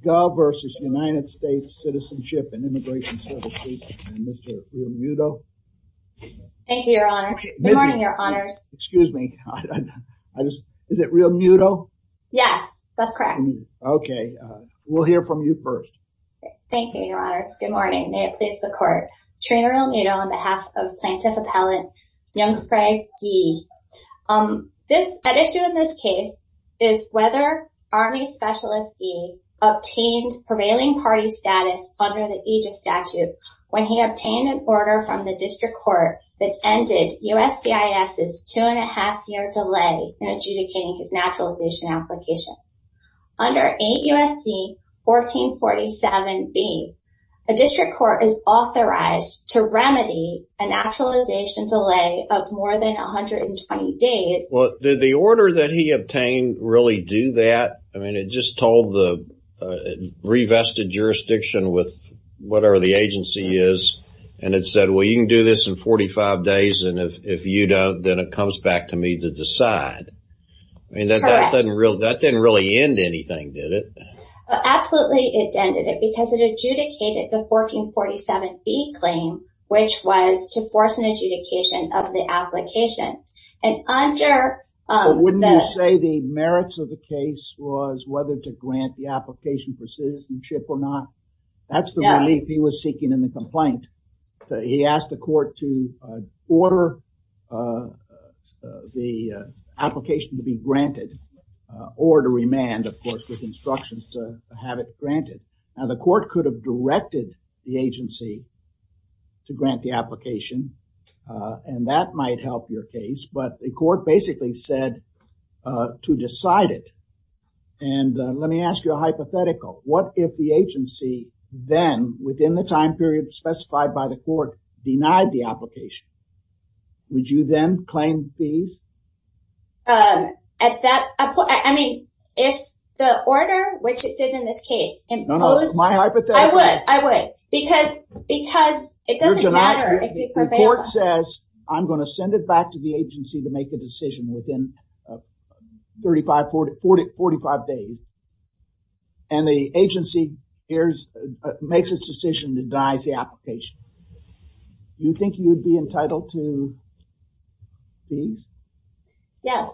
Ge v. US Citizenship and Immigration and Mr. RealMuto. Thank you, Your Honor. Good morning, Your Honors. Excuse me. Is it RealMuto? Yes, that's correct. Okay. We'll hear from you first. Thank you, Your Honors. Good morning. May it please the Court. Trina RealMuto on behalf of Plaintiff Appellant Youngfei Ge. The issue in this case is whether Army Specialist B obtained prevailing party status under the AGIS statute when he obtained a order from the District Court that ended USCIS's two-and-a-half-year delay in adjudicating his naturalization application. Under 8 U.S.C. 1447B, a District Court is Well, did the order that he obtained really do that? I mean, it just told the revested jurisdiction with whatever the agency is, and it said, well, you can do this in 45 days, and if you don't, then it comes back to me to decide. That didn't really end anything, did it? Absolutely, it ended it because it adjudicated the 1447B claim, which was to force an application. Wouldn't you say the merits of the case was whether to grant the application for citizenship or not? That's the relief he was seeking in the complaint. He asked the Court to order the application to be granted or to remand, of course, with instructions to have it granted. Now, the Court could have directed the agency to grant the application, and that might help your case, but the Court basically said to decide it. And let me ask you a hypothetical. What if the agency then, within the time period specified by the Court, denied the application? Would you then claim fees? At that point, I mean, if the order, which it did in this case, imposed... No, no, my hypothetical... I would, I would, because it doesn't matter if it prevails. The Court says, I'm going to send it back to the agency to make the decision within 45 days, and the agency makes its decision to deny the application. Do you think you would be entitled to fees? Yes,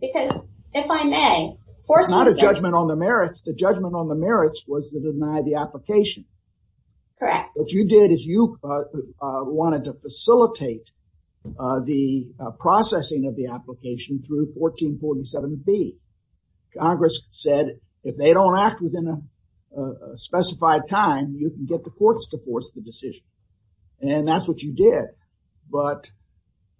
because if I may... It's not a judgment on the merits. The judgment on the merits was to deny the application. What you did is you wanted to facilitate the processing of the application through 1447b. Congress said, if they don't act within a specified time, you can get the Courts to force the decision. And that's what you did. But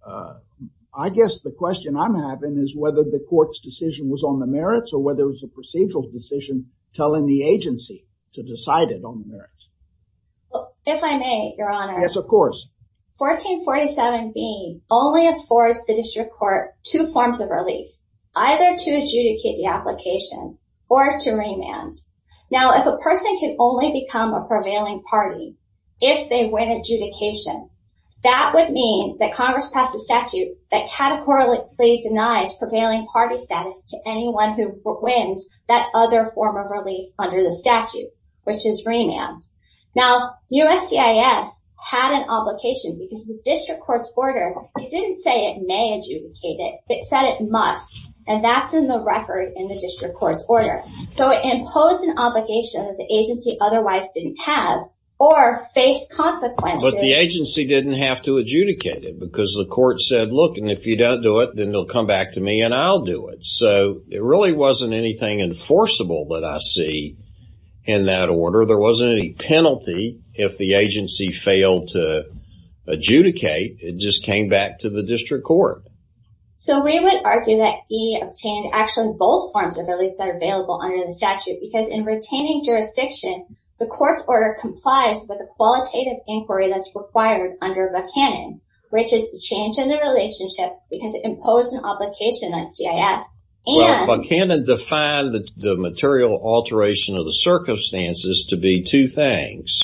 I guess the question I'm having is whether the Court's on the merits or whether it was a procedural decision telling the agency to decide it on the merits. If I may, Your Honor. Yes, of course. 1447b only affords the District Court two forms of relief, either to adjudicate the application or to remand. Now, if a person can only become a prevailing party if they win adjudication, that would mean that Congress passed a statute that categorically denies prevailing party status to anyone who wins that other form of relief under the statute, which is remand. Now, USCIS had an obligation because the District Court's order, it didn't say it may adjudicate it. It said it must, and that's in the record in the District Court's order. So it imposed an obligation that the agency otherwise didn't have or faced But the agency didn't have to adjudicate it because the Court said, look, and if you don't do it, then they'll come back to me and I'll do it. So it really wasn't anything enforceable that I see in that order. There wasn't any penalty if the agency failed to adjudicate. It just came back to the District Court. So we would argue that he obtained actually both forms of relief that are available under the statute because in retaining jurisdiction, the Court's order complies with qualitative inquiry that's required under Buchanan, which is the change in the relationship because it imposed an obligation on GIS. Buchanan defined the material alteration of the circumstances to be two things,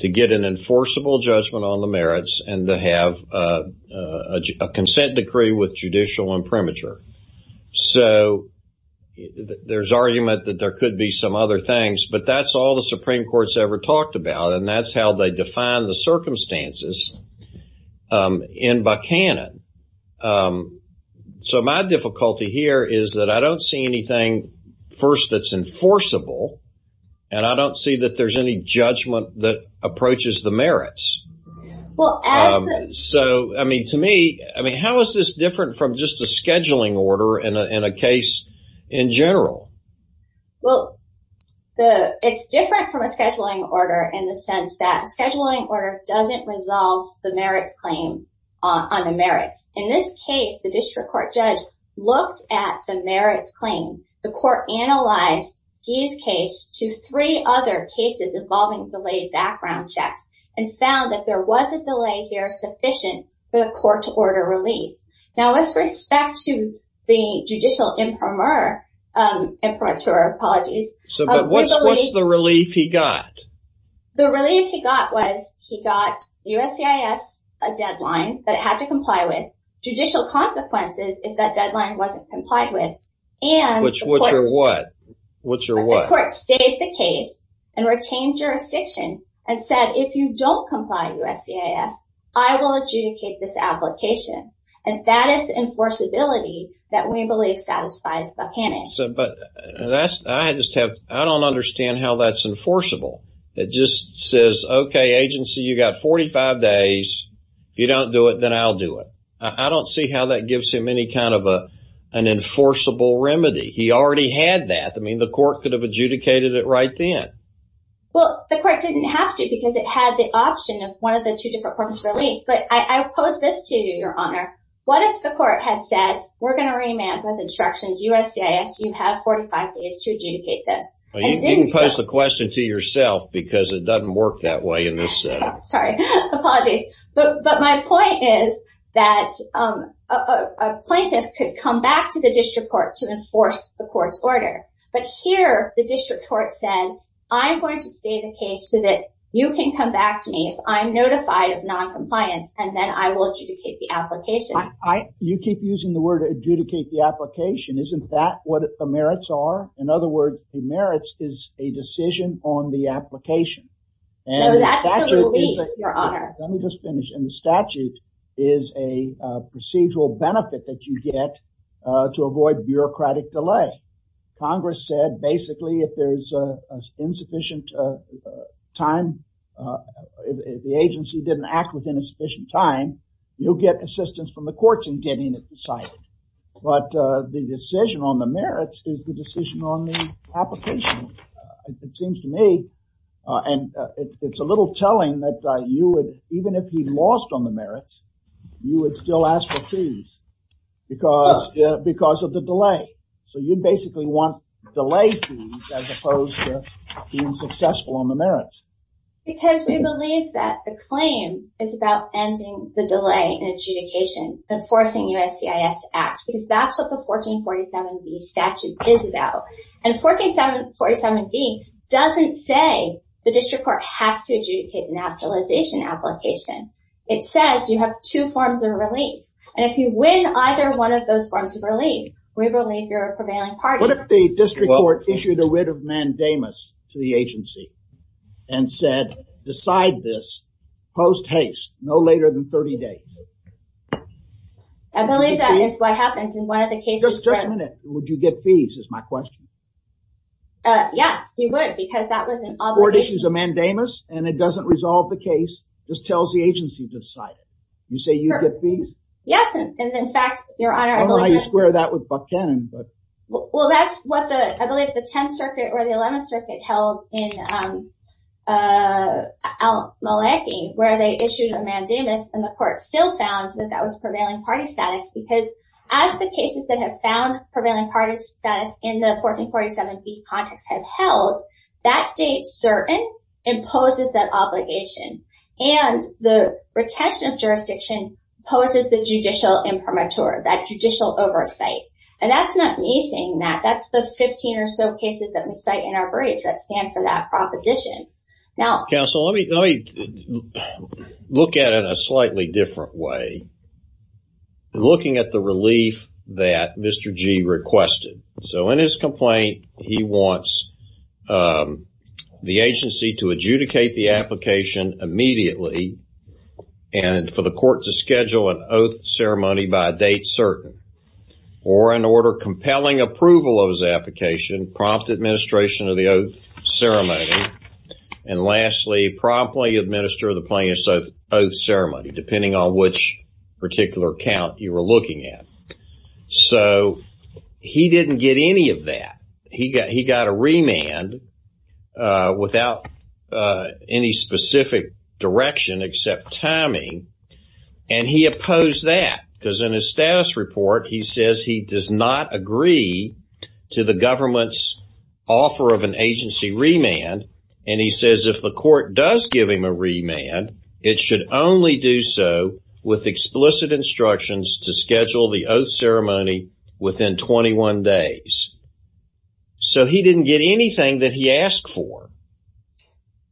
to get an enforceable judgment on the merits and to have a consent decree with judicial imprimatur. So there's argument that there could be some other things, but that's all the Supreme Court's ever talked about and that's how they define the circumstances in Buchanan. So my difficulty here is that I don't see anything first that's enforceable and I don't see that there's any judgment that approaches the merits. So, I mean, to me, I mean, how is this different from just a scheduling order in a case in general? Well, it's different from a scheduling order in the sense that a scheduling order doesn't resolve the merits claim on the merits. In this case, the District Court judge looked at the merits claim. The Court analyzed GIS case to three other cases involving delayed background checks and found that there was a delay here sufficient for the Court to order relief. Now, with respect to the judicial imprimatur, what's the relief he got? The relief he got was he got USCIS a deadline that it had to comply with, judicial consequences if that deadline wasn't complied with, and the Court stated the case and retained jurisdiction and said, if you don't comply with USCIS, I will adjudicate this application. And that is the enforceability that we believe satisfies Buchanan. So, but that's, I just have, I don't understand how that's enforceable. It just says, okay, agency, you got 45 days. If you don't do it, then I'll do it. I don't see how that gives him any kind of an enforceable remedy. He already had that. I mean, the Court could have adjudicated it right then. Well, the Court didn't have to because it had the option of one of the two different forms of relief. But I pose this to you, Your Honor. What if the Court had said, we're going to remand with instructions, USCIS, you have 45 days to adjudicate this. Well, you didn't pose the question to yourself because it doesn't work that way in this setting. Sorry, apologies. But my point is that a plaintiff could come back to the District Court to enforce the Court's order. But here, the District Court said, I'm going to stay the case so that you can come back to me if I'm notified of noncompliance, and then I will adjudicate the application. You keep using the word adjudicate the application. Isn't that what the merits are? In other words, the merits is a decision on the application. So that's the relief, Your Honor. Let me just finish. And the statute is a procedural benefit that you get to avoid bureaucratic delay. Congress said, basically, if there's insufficient time, if the agency didn't act within a sufficient time, you'll get assistance from the courts in getting it decided. But the decision on the merits is the decision on the application. It seems to me, and it's a little telling that you would, even if he lost on the merits, you would still ask for fees because of the delay. So you basically want delay fees as opposed to being successful on the merits. Because we believe that the claim is about ending the delay in adjudication and forcing USCIS to act, because that's what the 1447B statute is about. And 1447B doesn't say the District Court has to adjudicate the naturalization application. It says you have two forms of relief. And if you win either one of those forms of relief, we believe you're a mandamus to the agency and said, decide this post haste, no later than 30 days. I believe that is what happens in one of the cases. Just a minute. Would you get fees is my question. Yes, you would, because that was an obligation. Court issues a mandamus, and it doesn't resolve the case, just tells the agency to decide it. You say you get fees? Yes. And in fact, Your Honor, I believe... I don't know why you square that with Buckhannon, but... Well, that's what the, I believe the 10th Circuit or the 11th Circuit held in Al-Maliki, where they issued a mandamus and the court still found that that was prevailing party status. Because as the cases that have found prevailing parties status in the 1447B context have held, that date certain imposes that obligation. And the retention of jurisdiction poses the judicial imprimatur, that judicial oversight. And that's not me saying that. That's the 15 or so cases that we cite in our briefs that stand for that proposition. Now... Counsel, let me look at it in a slightly different way. Looking at the relief that Mr. G requested. So in his complaint, he wants the agency to schedule an oath ceremony by date certain. Or in order compelling approval of his application, prompt administration of the oath ceremony. And lastly, promptly administer the plaintiff's oath ceremony, depending on which particular count you were looking at. So he didn't get any of that. He got a remand without any specific direction except timing. And he opposed that. Because in his status report, he says he does not agree to the government's offer of an agency remand. And he says if the court does give him a remand, it should only do so with explicit instructions to schedule the oath ceremony within 21 days. So he didn't get anything that he asked for.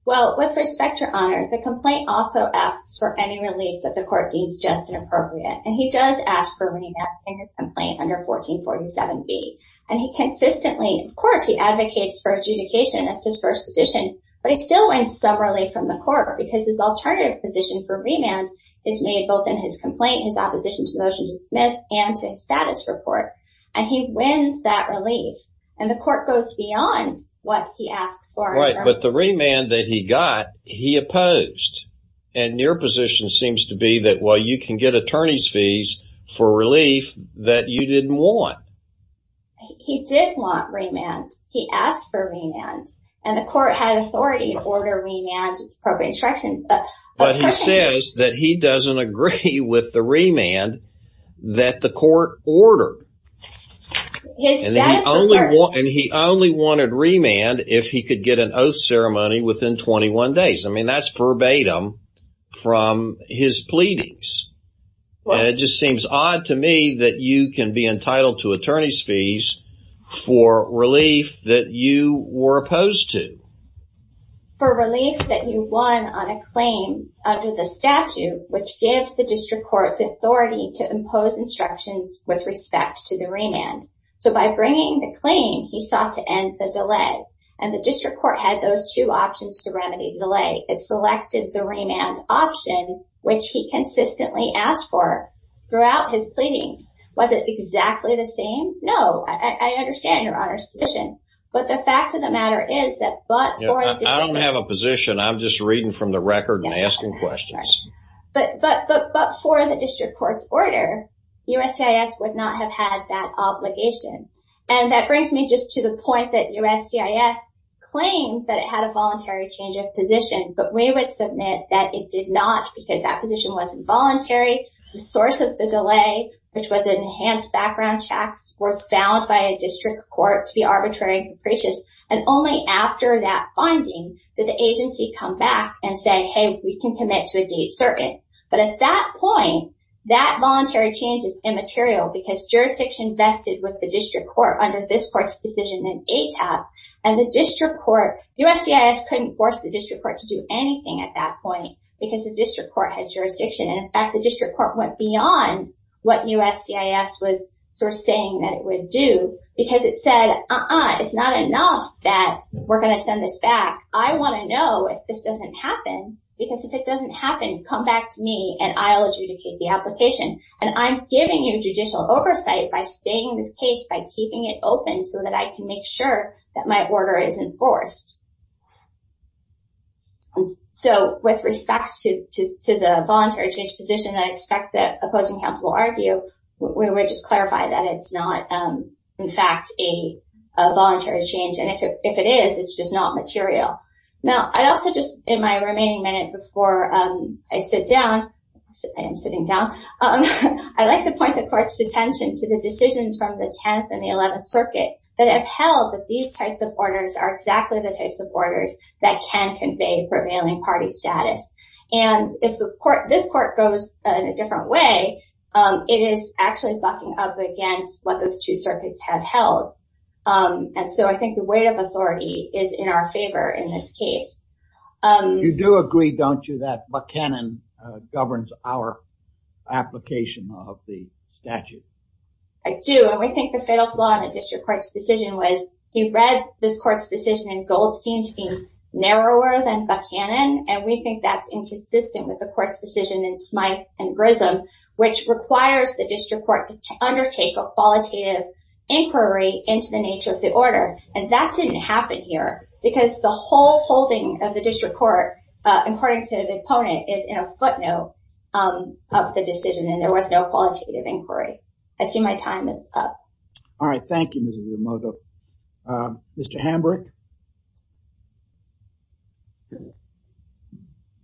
Well, with respect, your honor, the complaint also asks for any relief that the court deems just and appropriate. And he does ask for remand in his complaint under 1447B. And he consistently, of course, he advocates for adjudication. That's his first position. But he still wants some relief from the court because his alternative position for remand is made both in his complaint, his opposition to the motion to dismiss, and to his status report. And he wins that relief. And the court goes beyond what he asks for. Right. But the remand that he got, he opposed. And your position seems to be that, well, you can get attorney's fees for relief that you didn't want. He did want remand. He asked for remand. And the court had authority to order remand with appropriate remand that the court ordered. And he only wanted remand if he could get an oath ceremony within 21 days. I mean, that's verbatim from his pleadings. It just seems odd to me that you can be entitled to attorney's fees for relief that you were opposed to. For relief that you won on a claim under the statute, which gives the district court the authority to impose instructions with respect to the remand. So by bringing the claim, he sought to end the delay. And the district court had those two options to remedy the delay. It selected the remand option, which he consistently asked for throughout his pleadings. Was it exactly the same? No. I understand your honor's position. But the fact of the matter is that, but I don't have a position. I'm just reading from the record and asking questions. But for the district court's order, USCIS would not have had that obligation. And that brings me just to the point that USCIS claims that it had a voluntary change of position, but we would submit that it did not because that position wasn't voluntary. The source of the delay, which was an enhanced background checks, was found by a district court to be arbitrary and capricious. And only after that finding, did the agency come back and say, Hey, we can commit to a date circuit. But at that point, that voluntary change is immaterial because jurisdiction vested with the district court under this court's decision in ATAP and the district court, USCIS couldn't force the district court to do anything at that point because the district court had jurisdiction. And in fact, the district court went beyond what USCIS was saying that it would do because it said, uh-uh, it's not enough that we're going to send this back. I want to know if this doesn't happen because if it doesn't happen, come back to me and I'll adjudicate the application. And I'm giving you judicial oversight by staying in this case, by keeping it open so that I can make sure that my order is enforced. So with respect to the voluntary change position, I expect that opposing counsel will argue, we would just clarify that it's not in fact a voluntary change. And if it is, it's just not material. Now, I'd also just in my remaining minute before I sit down, I am sitting down, I'd like to point the court's attention to the decisions from the 10th and the 11th circuit that have held that these types of orders are exactly the types of orders that can convey prevailing party status. And if this court goes in a different way, it is actually bucking up what those two circuits have held. And so I think the weight of authority is in our favor in this case. You do agree, don't you, that Buchanan governs our application of the statute? I do. And we think the fatal flaw in the district court's decision was he read this court's decision in Goldstein to be narrower than Buchanan. And we think that's inconsistent with the court's decision in Smyth and Grissom, which requires the district court to undertake a qualitative inquiry into the nature of the order. And that didn't happen here because the whole holding of the district court, according to the opponent, is in a footnote of the decision and there was no qualitative inquiry. I assume my time is up. All right. Thank you, Mrs. Yamada. Mr. Hambrick?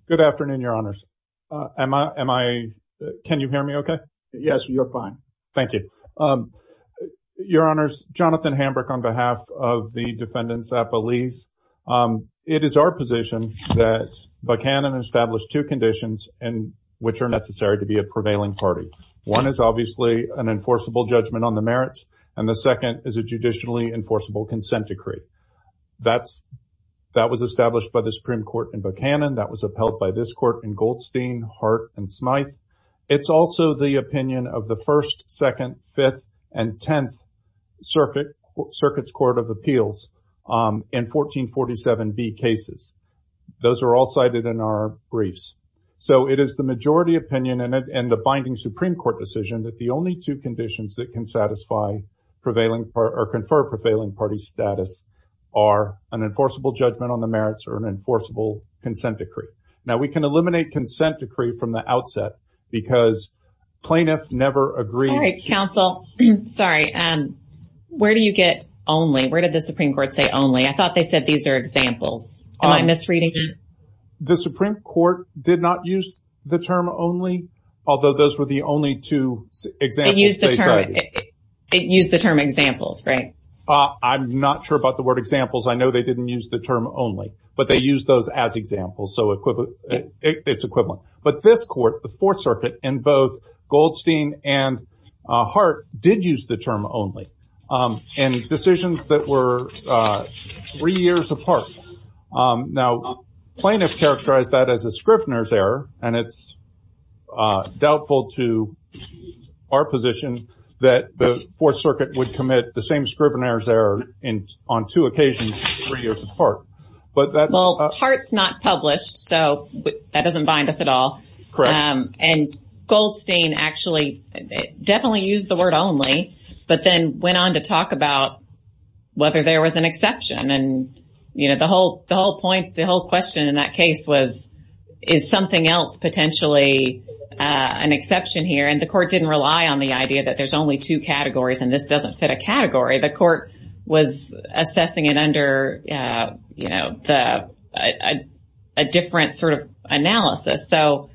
Good afternoon, Your Honors. Can you hear me okay? Yes, you're fine. Thank you. Your Honors, Jonathan Hambrick on behalf of the defendants at Belize. It is our position that Buchanan established two conditions in which are necessary to be a prevailing party. One is obviously an enforceable judgment on the merits, and the second is a judicially enforceable consent decree. That was established by the Supreme Court in Buchanan. That was upheld by this court in Goldstein, Hart, and Smyth. It's also the opinion of the First, Second, Fifth, and Tenth Circuit's Court of Appeals in 1447B cases. Those are all cited in our briefs. So it is the majority opinion and the binding Supreme Court decision that the prevailing or conferred prevailing party status are an enforceable judgment on the merits or an enforceable consent decree. Now, we can eliminate consent decree from the outset because plaintiff never agreed. Sorry, counsel. Sorry. Where do you get only? Where did the Supreme Court say only? I thought they said these are examples. Am I misreading? The Supreme Court did not use the term only, although those were the only two examples. It used the term examples, right? I'm not sure about the word examples. I know they didn't use the term only, but they used those as examples. So it's equivalent. But this court, the Fourth Circuit, in both Goldstein and Hart, did use the term only in decisions that were three years apart. Now, plaintiff characterized that as a Scrivner's error, and it's that the Fourth Circuit would commit the same Scrivner's error on two occasions three years apart. But that's... Well, Hart's not published, so that doesn't bind us at all. Correct. And Goldstein actually definitely used the word only, but then went on to talk about whether there was an exception. And the whole point, the whole question in that case was, is something else potentially an exception here? And the court didn't rely on the idea that there's only two categories and this doesn't fit a category. The court was assessing it under, you know, a different sort of analysis. So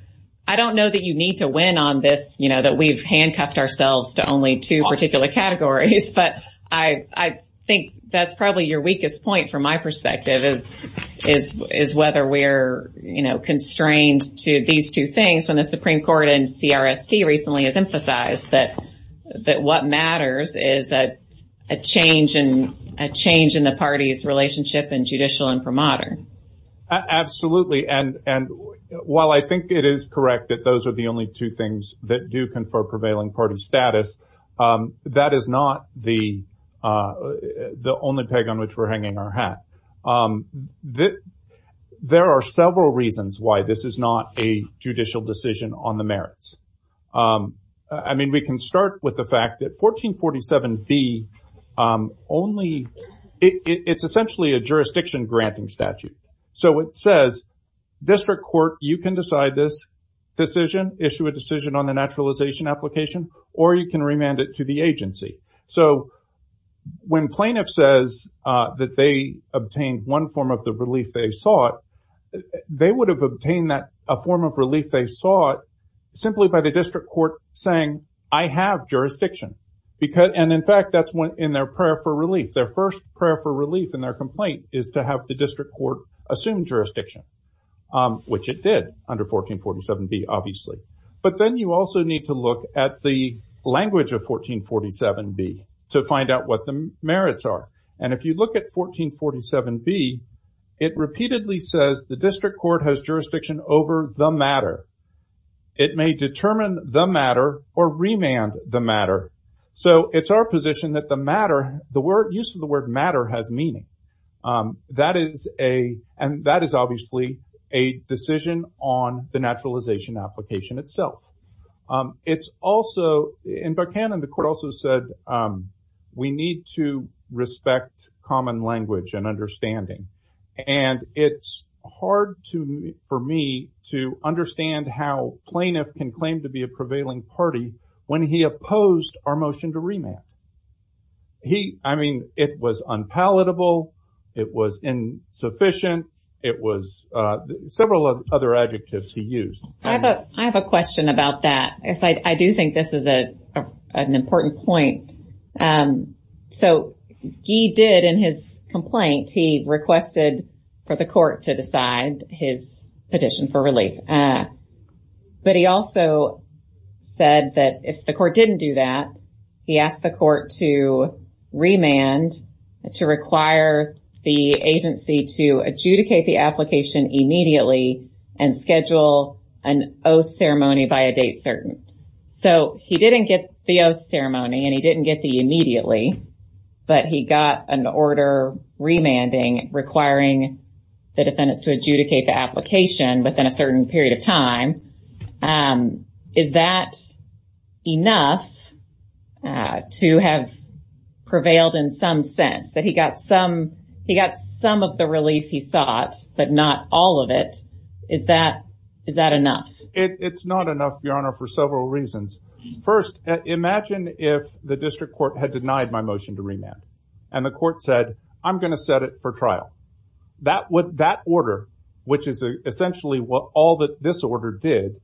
I don't know that you need to win on this, you know, that we've handcuffed ourselves to only two particular categories. But I think that's constrained to these two things when the Supreme Court and CRST recently has emphasized that what matters is a change in the party's relationship in judicial imprimatur. Absolutely. And while I think it is correct that those are the only two things that do confer prevailing party status, that is not the only peg on which we're hanging our hat. There are several reasons why this is not a judicial decision on the merits. I mean, we can start with the fact that 1447B only, it's essentially a jurisdiction granting statute. So it says, district court, you can decide this decision, issue a decision on the naturalization application, or you can remand it to the agency. So when plaintiff says that they obtained one form of the relief they sought, they would have obtained a form of relief they sought simply by the district court saying, I have jurisdiction. And in fact, that's in their prayer for relief. Their first prayer for relief in their complaint is to have the district court assume jurisdiction, which it did under 1447B, obviously. But then you also need to look at the 1447B. It repeatedly says the district court has jurisdiction over the matter. It may determine the matter or remand the matter. So it's our position that the matter, the word, use of the word matter has meaning. That is a, and that is obviously a decision on the naturalization application itself. It's also, in Buckhannon, the court also said, we need to respect common language and understanding. And it's hard for me to understand how plaintiff can claim to be a prevailing party when he opposed our motion to remand. He, I mean, it was unpalatable. It was insufficient. It was several other adjectives he used. I have a question about that. I do think this is an important point. So he did in his complaint, he requested for the court to decide his petition for relief. But he also said that if the court didn't do that, he asked the court to remand to require the agency to adjudicate the application immediately and schedule an oath ceremony by a date certain. So he didn't get the oath ceremony and he didn't get the immediately, but he got an order remanding requiring the defendants to adjudicate the application within a certain period of time. Is that enough to have prevailed in some sense that he got some, he got some of the relief he sought, but not all of it? Is that, is that enough? It's not enough, Your Honor, for several reasons. First, imagine if the district court had denied my motion to remand, and the court said, I'm going to set it for trial. That would, that order, which is essentially what all that this order did,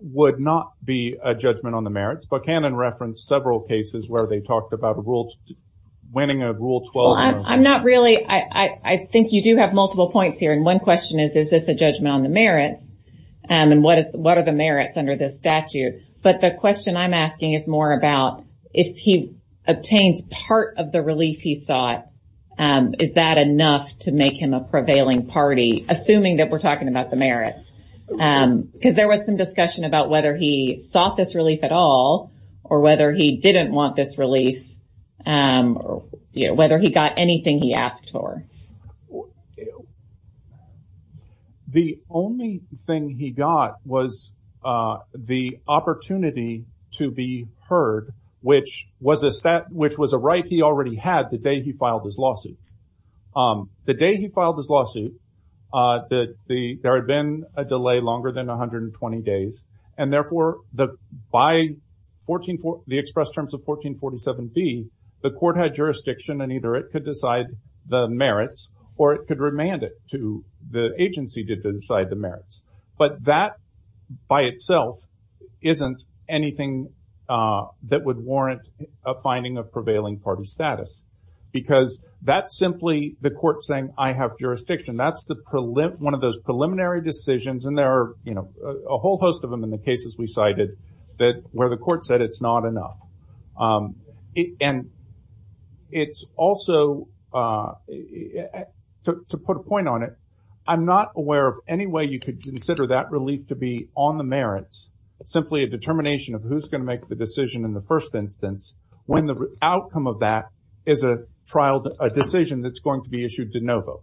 would not be a judgment on the merits. Buchanan referenced several cases where they talked about a rule, winning a rule 12. I'm not really, I think you do have multiple points here. And one question is, is this a judgment on the merits? And what is, what are the merits under this statute? But the question I'm asking is more about if he obtains part of the relief he sought, is that enough to make him a prevailing party, assuming that we're talking about the merits? Because there was some discussion about whether he sought this relief at all, or whether he didn't want this relief, or whether he got anything he asked for. The only thing he got was the opportunity to be heard, which was a set, which was a right he already had the day he filed his lawsuit. The day he filed his lawsuit, there had been a delay longer than 120 days. And therefore, by the express terms of 1447B, the court had jurisdiction, and either it could decide the merits, or it could remand it to the agency to decide the merits. But that, by itself, isn't anything that would warrant a finding of prevailing party status. Because that's simply the court saying, I have jurisdiction. That's one of those preliminary decisions. And there are a whole host of them in the cases we cited, that where the court said it's not enough. And it's also, to put a point on it, I'm not aware of any way you could consider that relief to be on the merits, simply a determination of who's going to make the decision in the first instance, when the outcome of that is a decision that's issued de novo.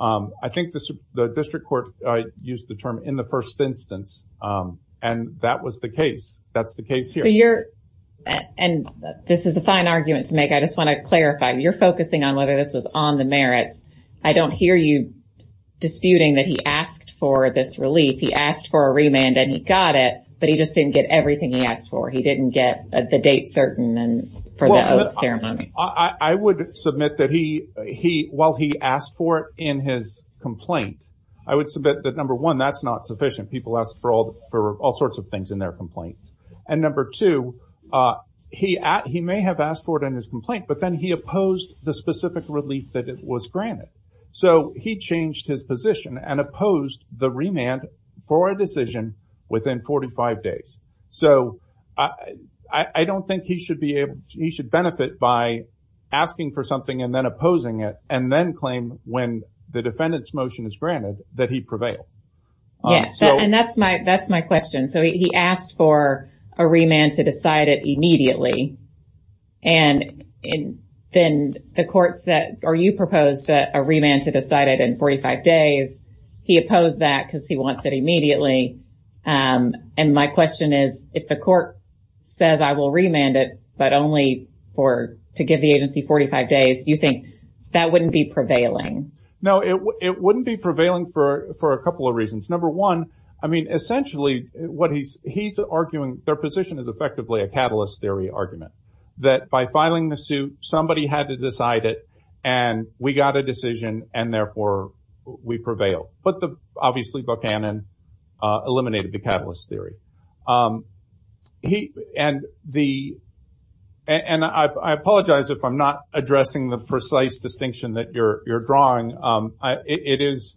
I think the district court used the term in the first instance. And that was the case. That's the case here. And this is a fine argument to make. I just want to clarify, you're focusing on whether this was on the merits. I don't hear you disputing that he asked for this relief. He asked for a remand, and he got it. But he just didn't get everything he asked for. He asked for it in his complaint. I would submit that number one, that's not sufficient. People ask for all sorts of things in their complaints. And number two, he may have asked for it in his complaint, but then he opposed the specific relief that was granted. So he changed his position and opposed the remand for a decision within 45 days. So I don't think he should benefit by asking for something and then opposing it and then claim when the defendant's motion is granted that he prevailed. And that's my that's my question. So he asked for a remand to decide it immediately. And then the courts that are you proposed a remand to decide it in 45 days. He opposed that because he wants it immediately. And my question is, if the court says I will remand it, but only for to give the agency 45 days, you think that wouldn't be prevailing? No, it wouldn't be prevailing for for a couple of reasons. Number one, I mean, essentially, what he's he's arguing their position is effectively a catalyst theory argument that by filing the suit, somebody had to decide it. And we got a decision. And therefore, we prevail. But obviously, Buchanan eliminated the catalyst theory. And the and I apologize if I'm not addressing the precise distinction that you're drawing. It is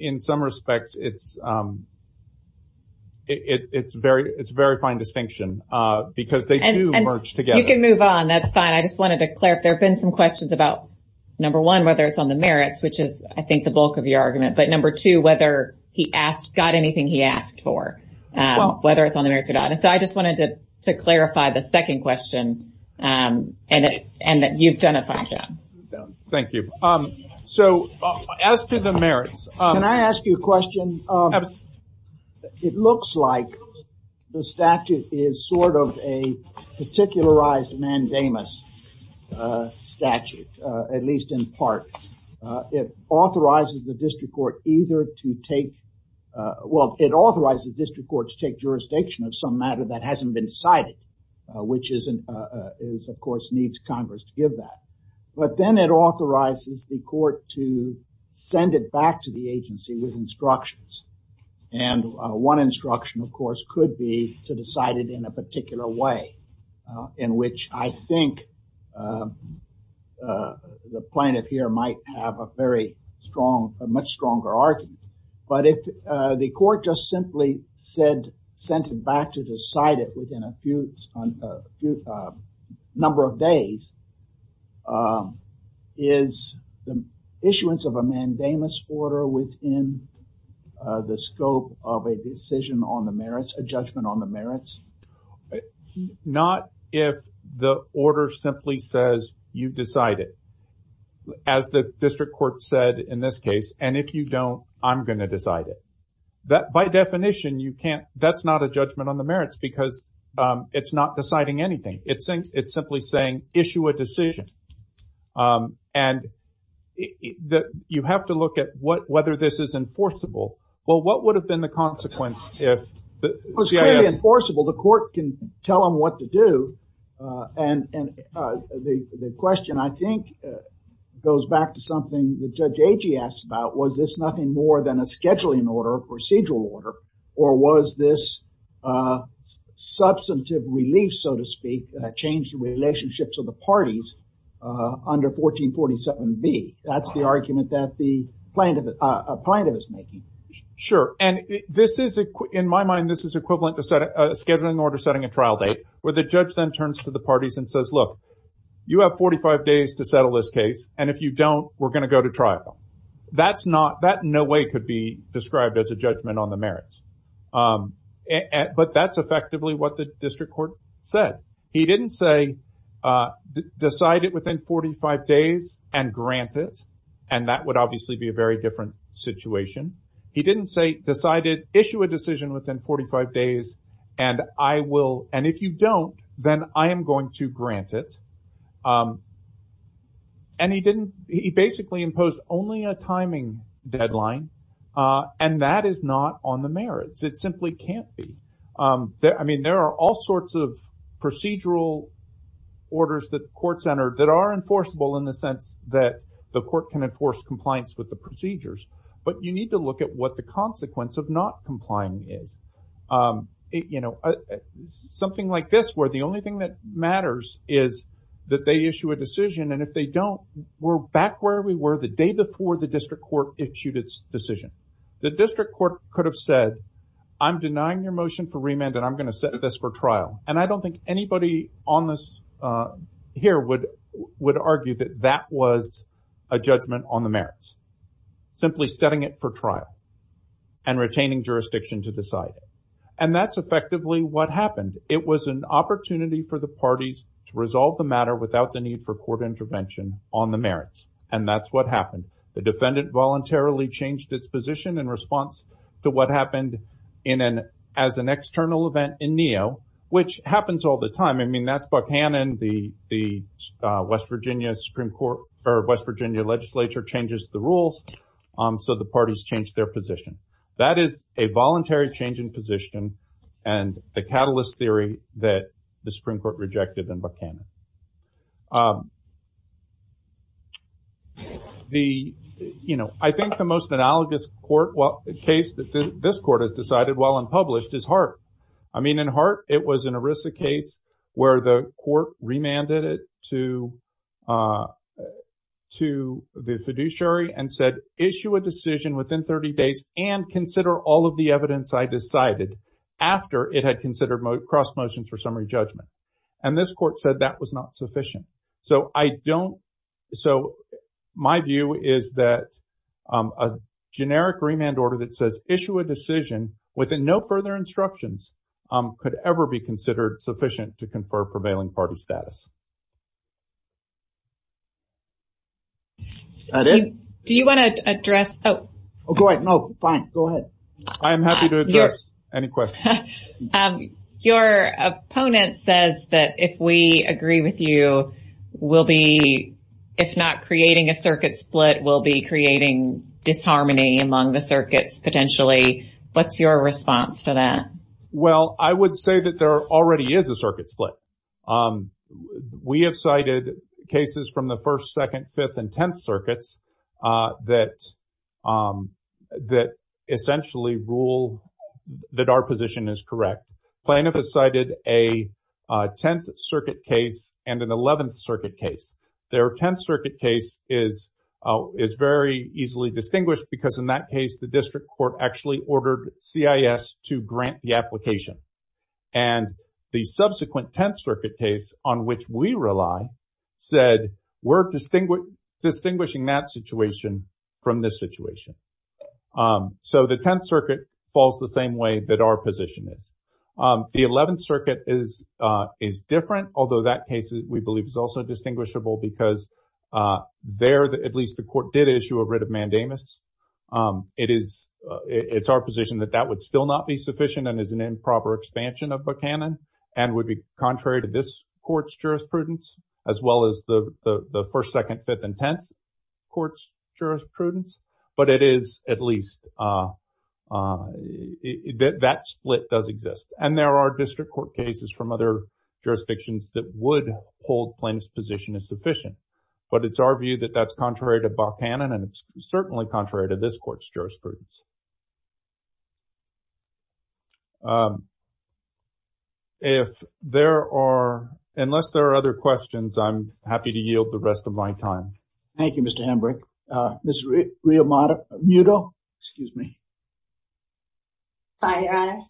in some respects, it's it's very, it's very fine distinction, because they do merge together. You can move on. That's fine. I just wanted to clarify. There have been some questions about number one, whether it's on the merits, which is, I think, the bulk of your argument, but number two, whether he asked got anything he asked for, whether it's on the merits or not. And so I just wanted to clarify the second question. And, and that you've done a fine job. Thank you. So as to the merits, can I ask you a question? It looks like the statute is sort of a particularized mandamus statute, at least in part, it authorizes the district court either to take, well, it authorizes the district court to take jurisdiction of some matter that hasn't been decided, which is, of course, needs Congress to give that. But then it authorizes the court to send it back to the agency with instructions. And one instruction, of course, could be to decide it in a particular way in which I think the plaintiff here might have a very strong, a much stronger argument. But if the court just simply said, sent it back to decide it within a few number of days, is the issuance of a mandamus order within the scope of a decision on the merits, a judgment on the merits? Not if the order simply says you've decided, as the district court said in this case, and if you don't, I'm going to decide it. That by definition, you can't, that's not a judgment on a decision. And that you have to look at what, whether this is enforceable. Well, what would have been the consequence if it was clearly enforceable, the court can tell them what to do. And the question, I think, goes back to something that Judge Agee asked about, was this nothing more than a scheduling order, a procedural order, or was this substantive relief, so to speak, that changed the relationships of the parties under 1447B? That's the argument that the plaintiff is making. Sure. And this is, in my mind, this is equivalent to a scheduling order setting a trial date, where the judge then turns to the parties and says, look, you have 45 days to settle this case. And if you don't, we're going to go to trial. That's not, that in no way could be described as a judgment on the merits. But that's effectively what the district court said. He didn't say, decide it within 45 days and grant it, and that would obviously be a very different situation. He didn't say, decide it, issue a decision within 45 days, and I will, and if you don't, then I am going to grant it. And he didn't, he basically imposed only a timing deadline. And that is not on the merits. It simply can't be. I mean, there are all sorts of procedural orders that courts enter that are enforceable in the sense that the court can enforce compliance with the procedures. But you need to look at what the consequence of not complying is. You know, something like this, where the only thing that matters is that they issue a decision. The district court could have said, I'm denying your motion for remand and I'm going to set this for trial. And I don't think anybody on this here would argue that that was a judgment on the merits. Simply setting it for trial and retaining jurisdiction to decide. And that's effectively what happened. It was an opportunity for the parties to resolve the matter without the court intervention on the merits. And that's what happened. The defendant voluntarily changed its position in response to what happened as an external event in NEO, which happens all the time. I mean, that's Buckhannon, the West Virginia legislature changes the rules, so the parties change their position. That is a voluntary change in position and the catalyst theory that the Supreme Court rejected in Buckhannon. The, you know, I think the most analogous case that this court has decided while unpublished is Hart. I mean, in Hart, it was an ERISA case where the court remanded it to the fiduciary and said, issue a decision within 30 days and consider all of the evidence I decided after it had considered cross motions for summary judgment. And this court said that was not sufficient. So I don't, so my view is that a generic remand order that says issue a decision within no further instructions could ever be considered sufficient to confer prevailing party status. That it? Do you want to address? Oh, go ahead. No, fine. Go ahead. I am happy to address any question. Your opponent says that if we agree with you, we'll be, if not creating a circuit split, we'll be creating disharmony among the circuits potentially. What's your response to that? Well, I would say that there already is a circuit split. We have cited cases from the 1st, 2nd, 5th, and 10th circuits that essentially rule that our position is correct. Plaintiff has cited a 10th circuit case and an 11th circuit case. Their 10th circuit case is very easily distinguished because in that case, the district court actually ordered CIS to grant the application. And the subsequent 10th circuit case on which we rely said we're distinguishing that situation from this situation. So the 10th circuit falls the same way that our position is. The 11th circuit is different, although that case we believe is also distinguishable because there, at least the court did issue a writ of mandamus. It's our position that that would still not be sufficient and is an improper expansion of Buchanan and would be contrary to this court's jurisprudence as well as the 1st, 2nd, 5th, and 10th courts' jurisprudence. But it is at least, that split does exist. And there are district court cases from other jurisdictions that would hold plaintiff's position as sufficient. But it's our view that that's contrary to Buchanan and it's certainly contrary to this court's jurisprudence. If there are, unless there are other questions, I'm happy to yield the rest of my time. Thank you, Mr. Hembrick. Ms. Riomato, Muto, excuse me. Sorry, Your Honors.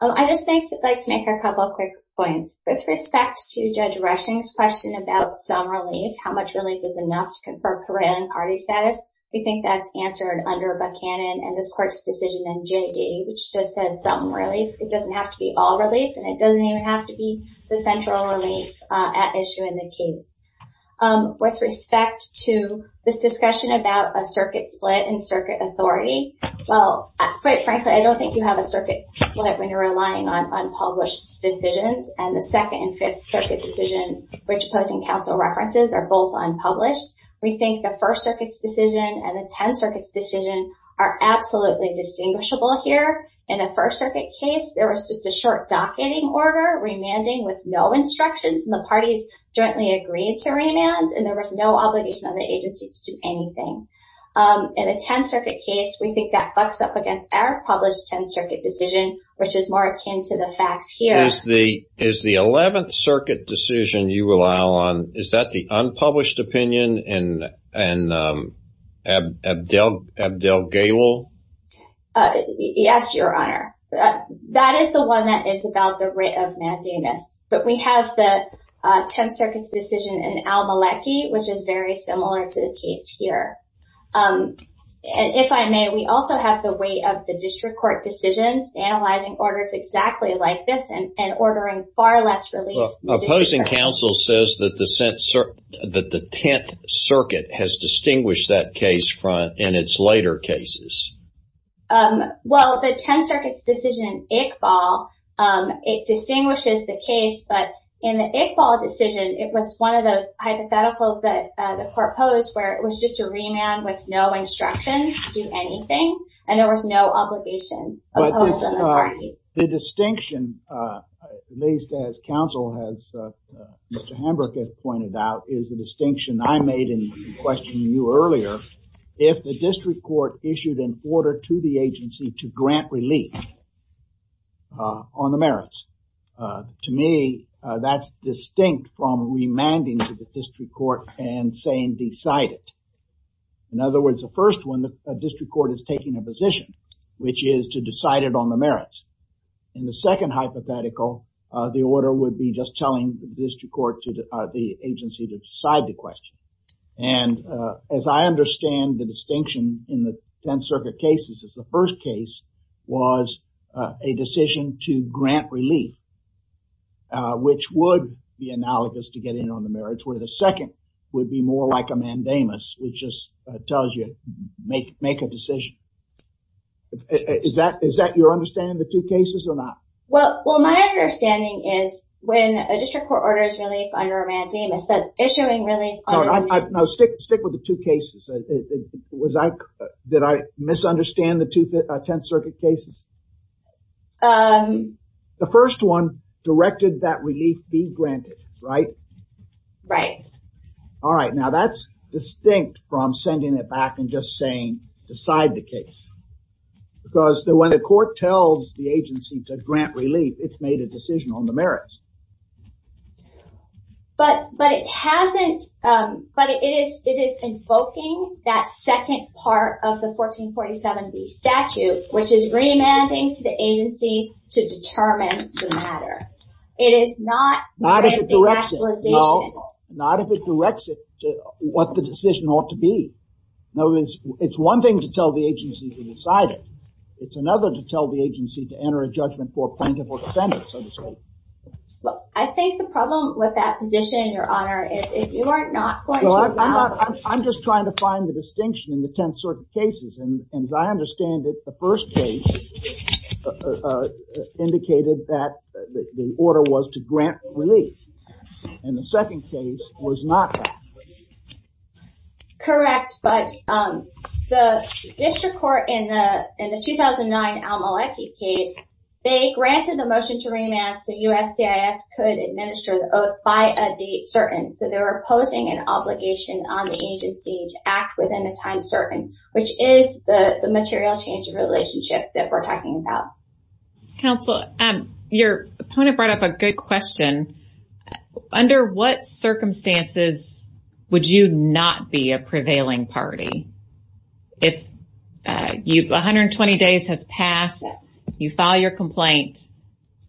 I'd just like to make a couple of quick points. With respect to Judge Rushing's question about some relief, how much relief is enough to confirm career and party status, we think that's answered under Buchanan and this court's decision in JD, which just says some relief. It doesn't have to be all relief and it doesn't even have to be the central relief at issue in the case. With respect to this discussion about a circuit split and circuit authority, quite frankly, I don't think you have a circuit split when you're relying on unpublished decisions. And the Second and Fifth Circuit decision, which pose in counsel references, are both unpublished. We think the First Circuit's decision and the Tenth Circuit's decision are absolutely distinguishable here. In the First Circuit case, there was just a short docketing order, remanding with no instructions, and the parties jointly agreed to remand and there was no obligation on the agency to do anything. In the Tenth Circuit case, we think that bucks up against our published Tenth Circuit decision, which is more akin to the facts here. Is the Eleventh Circuit decision you rely on, is that the unpublished opinion in Abdelghalil? Yes, Your Honor. That is the one that is about the writ of mandamus. But we have the Tenth Circuit's decision in al-Maliki, which is very similar to the case here. And if I may, we also have the weight of the district court decisions, analyzing orders exactly like this and ordering far less relief. Opposing counsel says that the Tenth Circuit has distinguished that case front in its later cases. Well, the Tenth Circuit's decision in Iqbal, it distinguishes the case, but in the Iqbal decision, it was one of those hypotheticals that the court posed where it was just a remand with no instructions to do anything and there was no obligation. The distinction, at least as counsel has pointed out, is the distinction I made in questioning you earlier. If the district court issued an order to the agency to grant relief on the merits, to me, that's distinct from remanding to the district court and saying decide it. In other words, the first one, the district court is taking a position, which is to decide it on the merits. In the second hypothetical, the order would be just telling the district court to the agency to decide the question. And as I understand the distinction in the Tenth Circuit cases is the first case was a decision to grant relief, which would be analogous to getting on the merits, where the second would be more like a mandamus, which just tells you make a decision. Is that your understanding of the two cases or not? Well, my understanding is when a district court orders relief under a mandamus, that issuing relief... No, stick with the two cases. Was I... Did I misunderstand the two Tenth Circuit cases? The first one directed that relief be granted, right? Right. All right, now that's distinct from sending it back and just saying decide the case. Because when the court tells the agency to grant relief, it's made a decision on the merits. But it hasn't... But it is invoking that second part of the 1447B statute, which is remanding to the agency to determine the matter. It is not granting actualization. Not if it directs it to what the decision ought to be. In other words, it's one thing to tell the agency to decide it. It's another to tell the agency to enter a judgment for plaintiff or defendant, so to speak. Well, I think the problem with that position, Your Honor, is if you are not going to allow... Well, I'm just trying to find the distinction in the Tenth Circuit cases. And as I understand it, the first case indicated that the order was to grant relief. And the second case was not that. Correct, but the district court in the 2009 Almalechi case, they granted the motion to remand so USCIS could administer the oath by a date certain. So they were posing an obligation on the agency to act within the time certain, which is the material change of relationship that we're talking about. Counsel, your opponent brought up a good question. Under what circumstances would you not be a prevailing party if 120 days has passed, you file your complaint.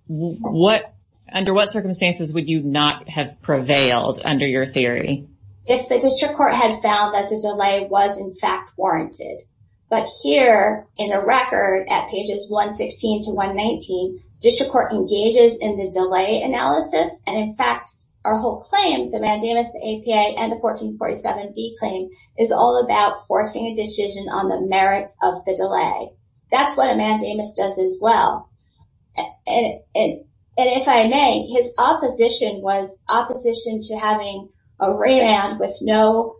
Under what circumstances would you not have prevailed under your theory? If the district court had found that the delay was in fact warranted. But here in the record at pages 116 to 119, district court engages in the delay analysis. And in fact, our whole claim, the mandamus, the APA, and the 1447B claim is all about forcing a decision on the merits of the delay. That's what a mandamus does as well. And if I may, his opposition was opposition to having a remand with no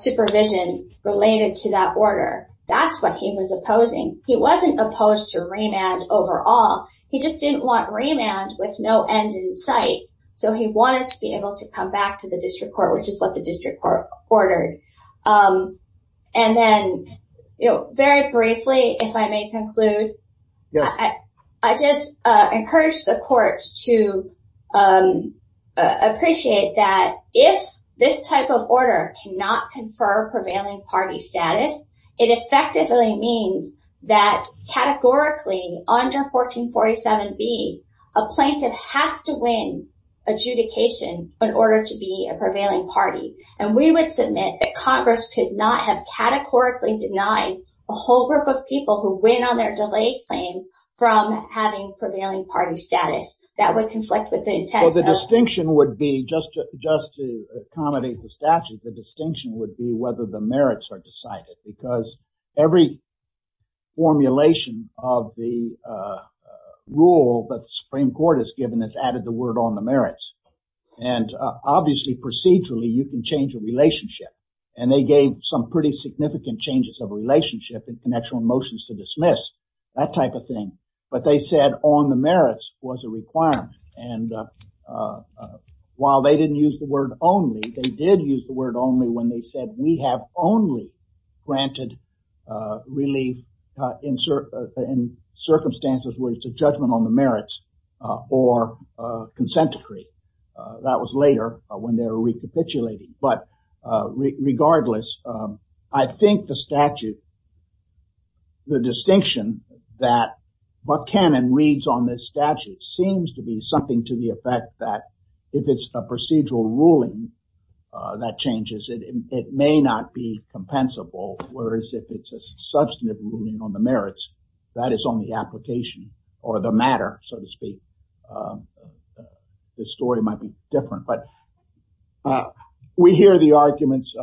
supervision related to that order. That's what he was opposing. He wasn't opposed to remand overall. He just didn't want remand with no end in sight. So he wanted to be able to come back to the district court, which is what the district court ordered. And then, very briefly, if I may conclude, I just encourage the court to appreciate that if this type of order cannot confer prevailing party status, it effectively means that categorically under 1447B, a plaintiff has to win adjudication in order to be a prevailing party. And we would submit that Congress could not have categorically denied a whole group of people who win on their delay claim from having prevailing party status. That would conflict with the intent. Well, the distinction would be, just to accommodate the statute, the distinction would be whether the merits are decided. Because every formulation of the rule that the Supreme Court has given has added the word on the merits. And obviously, procedurally, you can change a relationship. And they gave some pretty significant changes of relationship and connectional motions to dismiss, that type of thing. But they said on the merits was a requirement. And while they didn't use the word only, they did use the word only when they said we have only granted relief in circumstances where it's a judgment on the merits or consent decree. That was later when they were recapitulating. But regardless, I think the statute, the distinction that Buck Cannon reads on this statute seems to be something to the effect that if it's a procedural ruling that changes, it may not be compensable. Whereas if it's a substantive ruling on the merits, that is only application or the matter, so to speak. The story might be different. But we hear the arguments.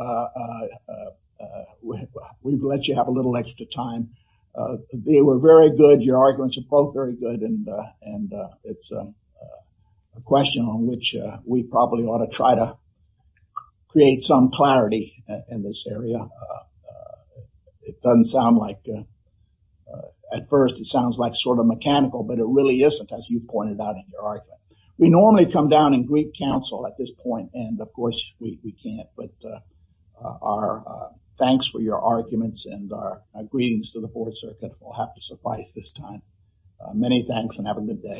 We've let you have a little extra time. They were very good. Your probably ought to try to create some clarity in this area. It doesn't sound like, at first, it sounds like sort of mechanical, but it really isn't, as you pointed out in your argument. We normally come down and greet counsel at this point. And of course, we can't. But our thanks for your arguments and our greetings to the Fourth Circuit will have to suffice this time. Many thanks and have a good day.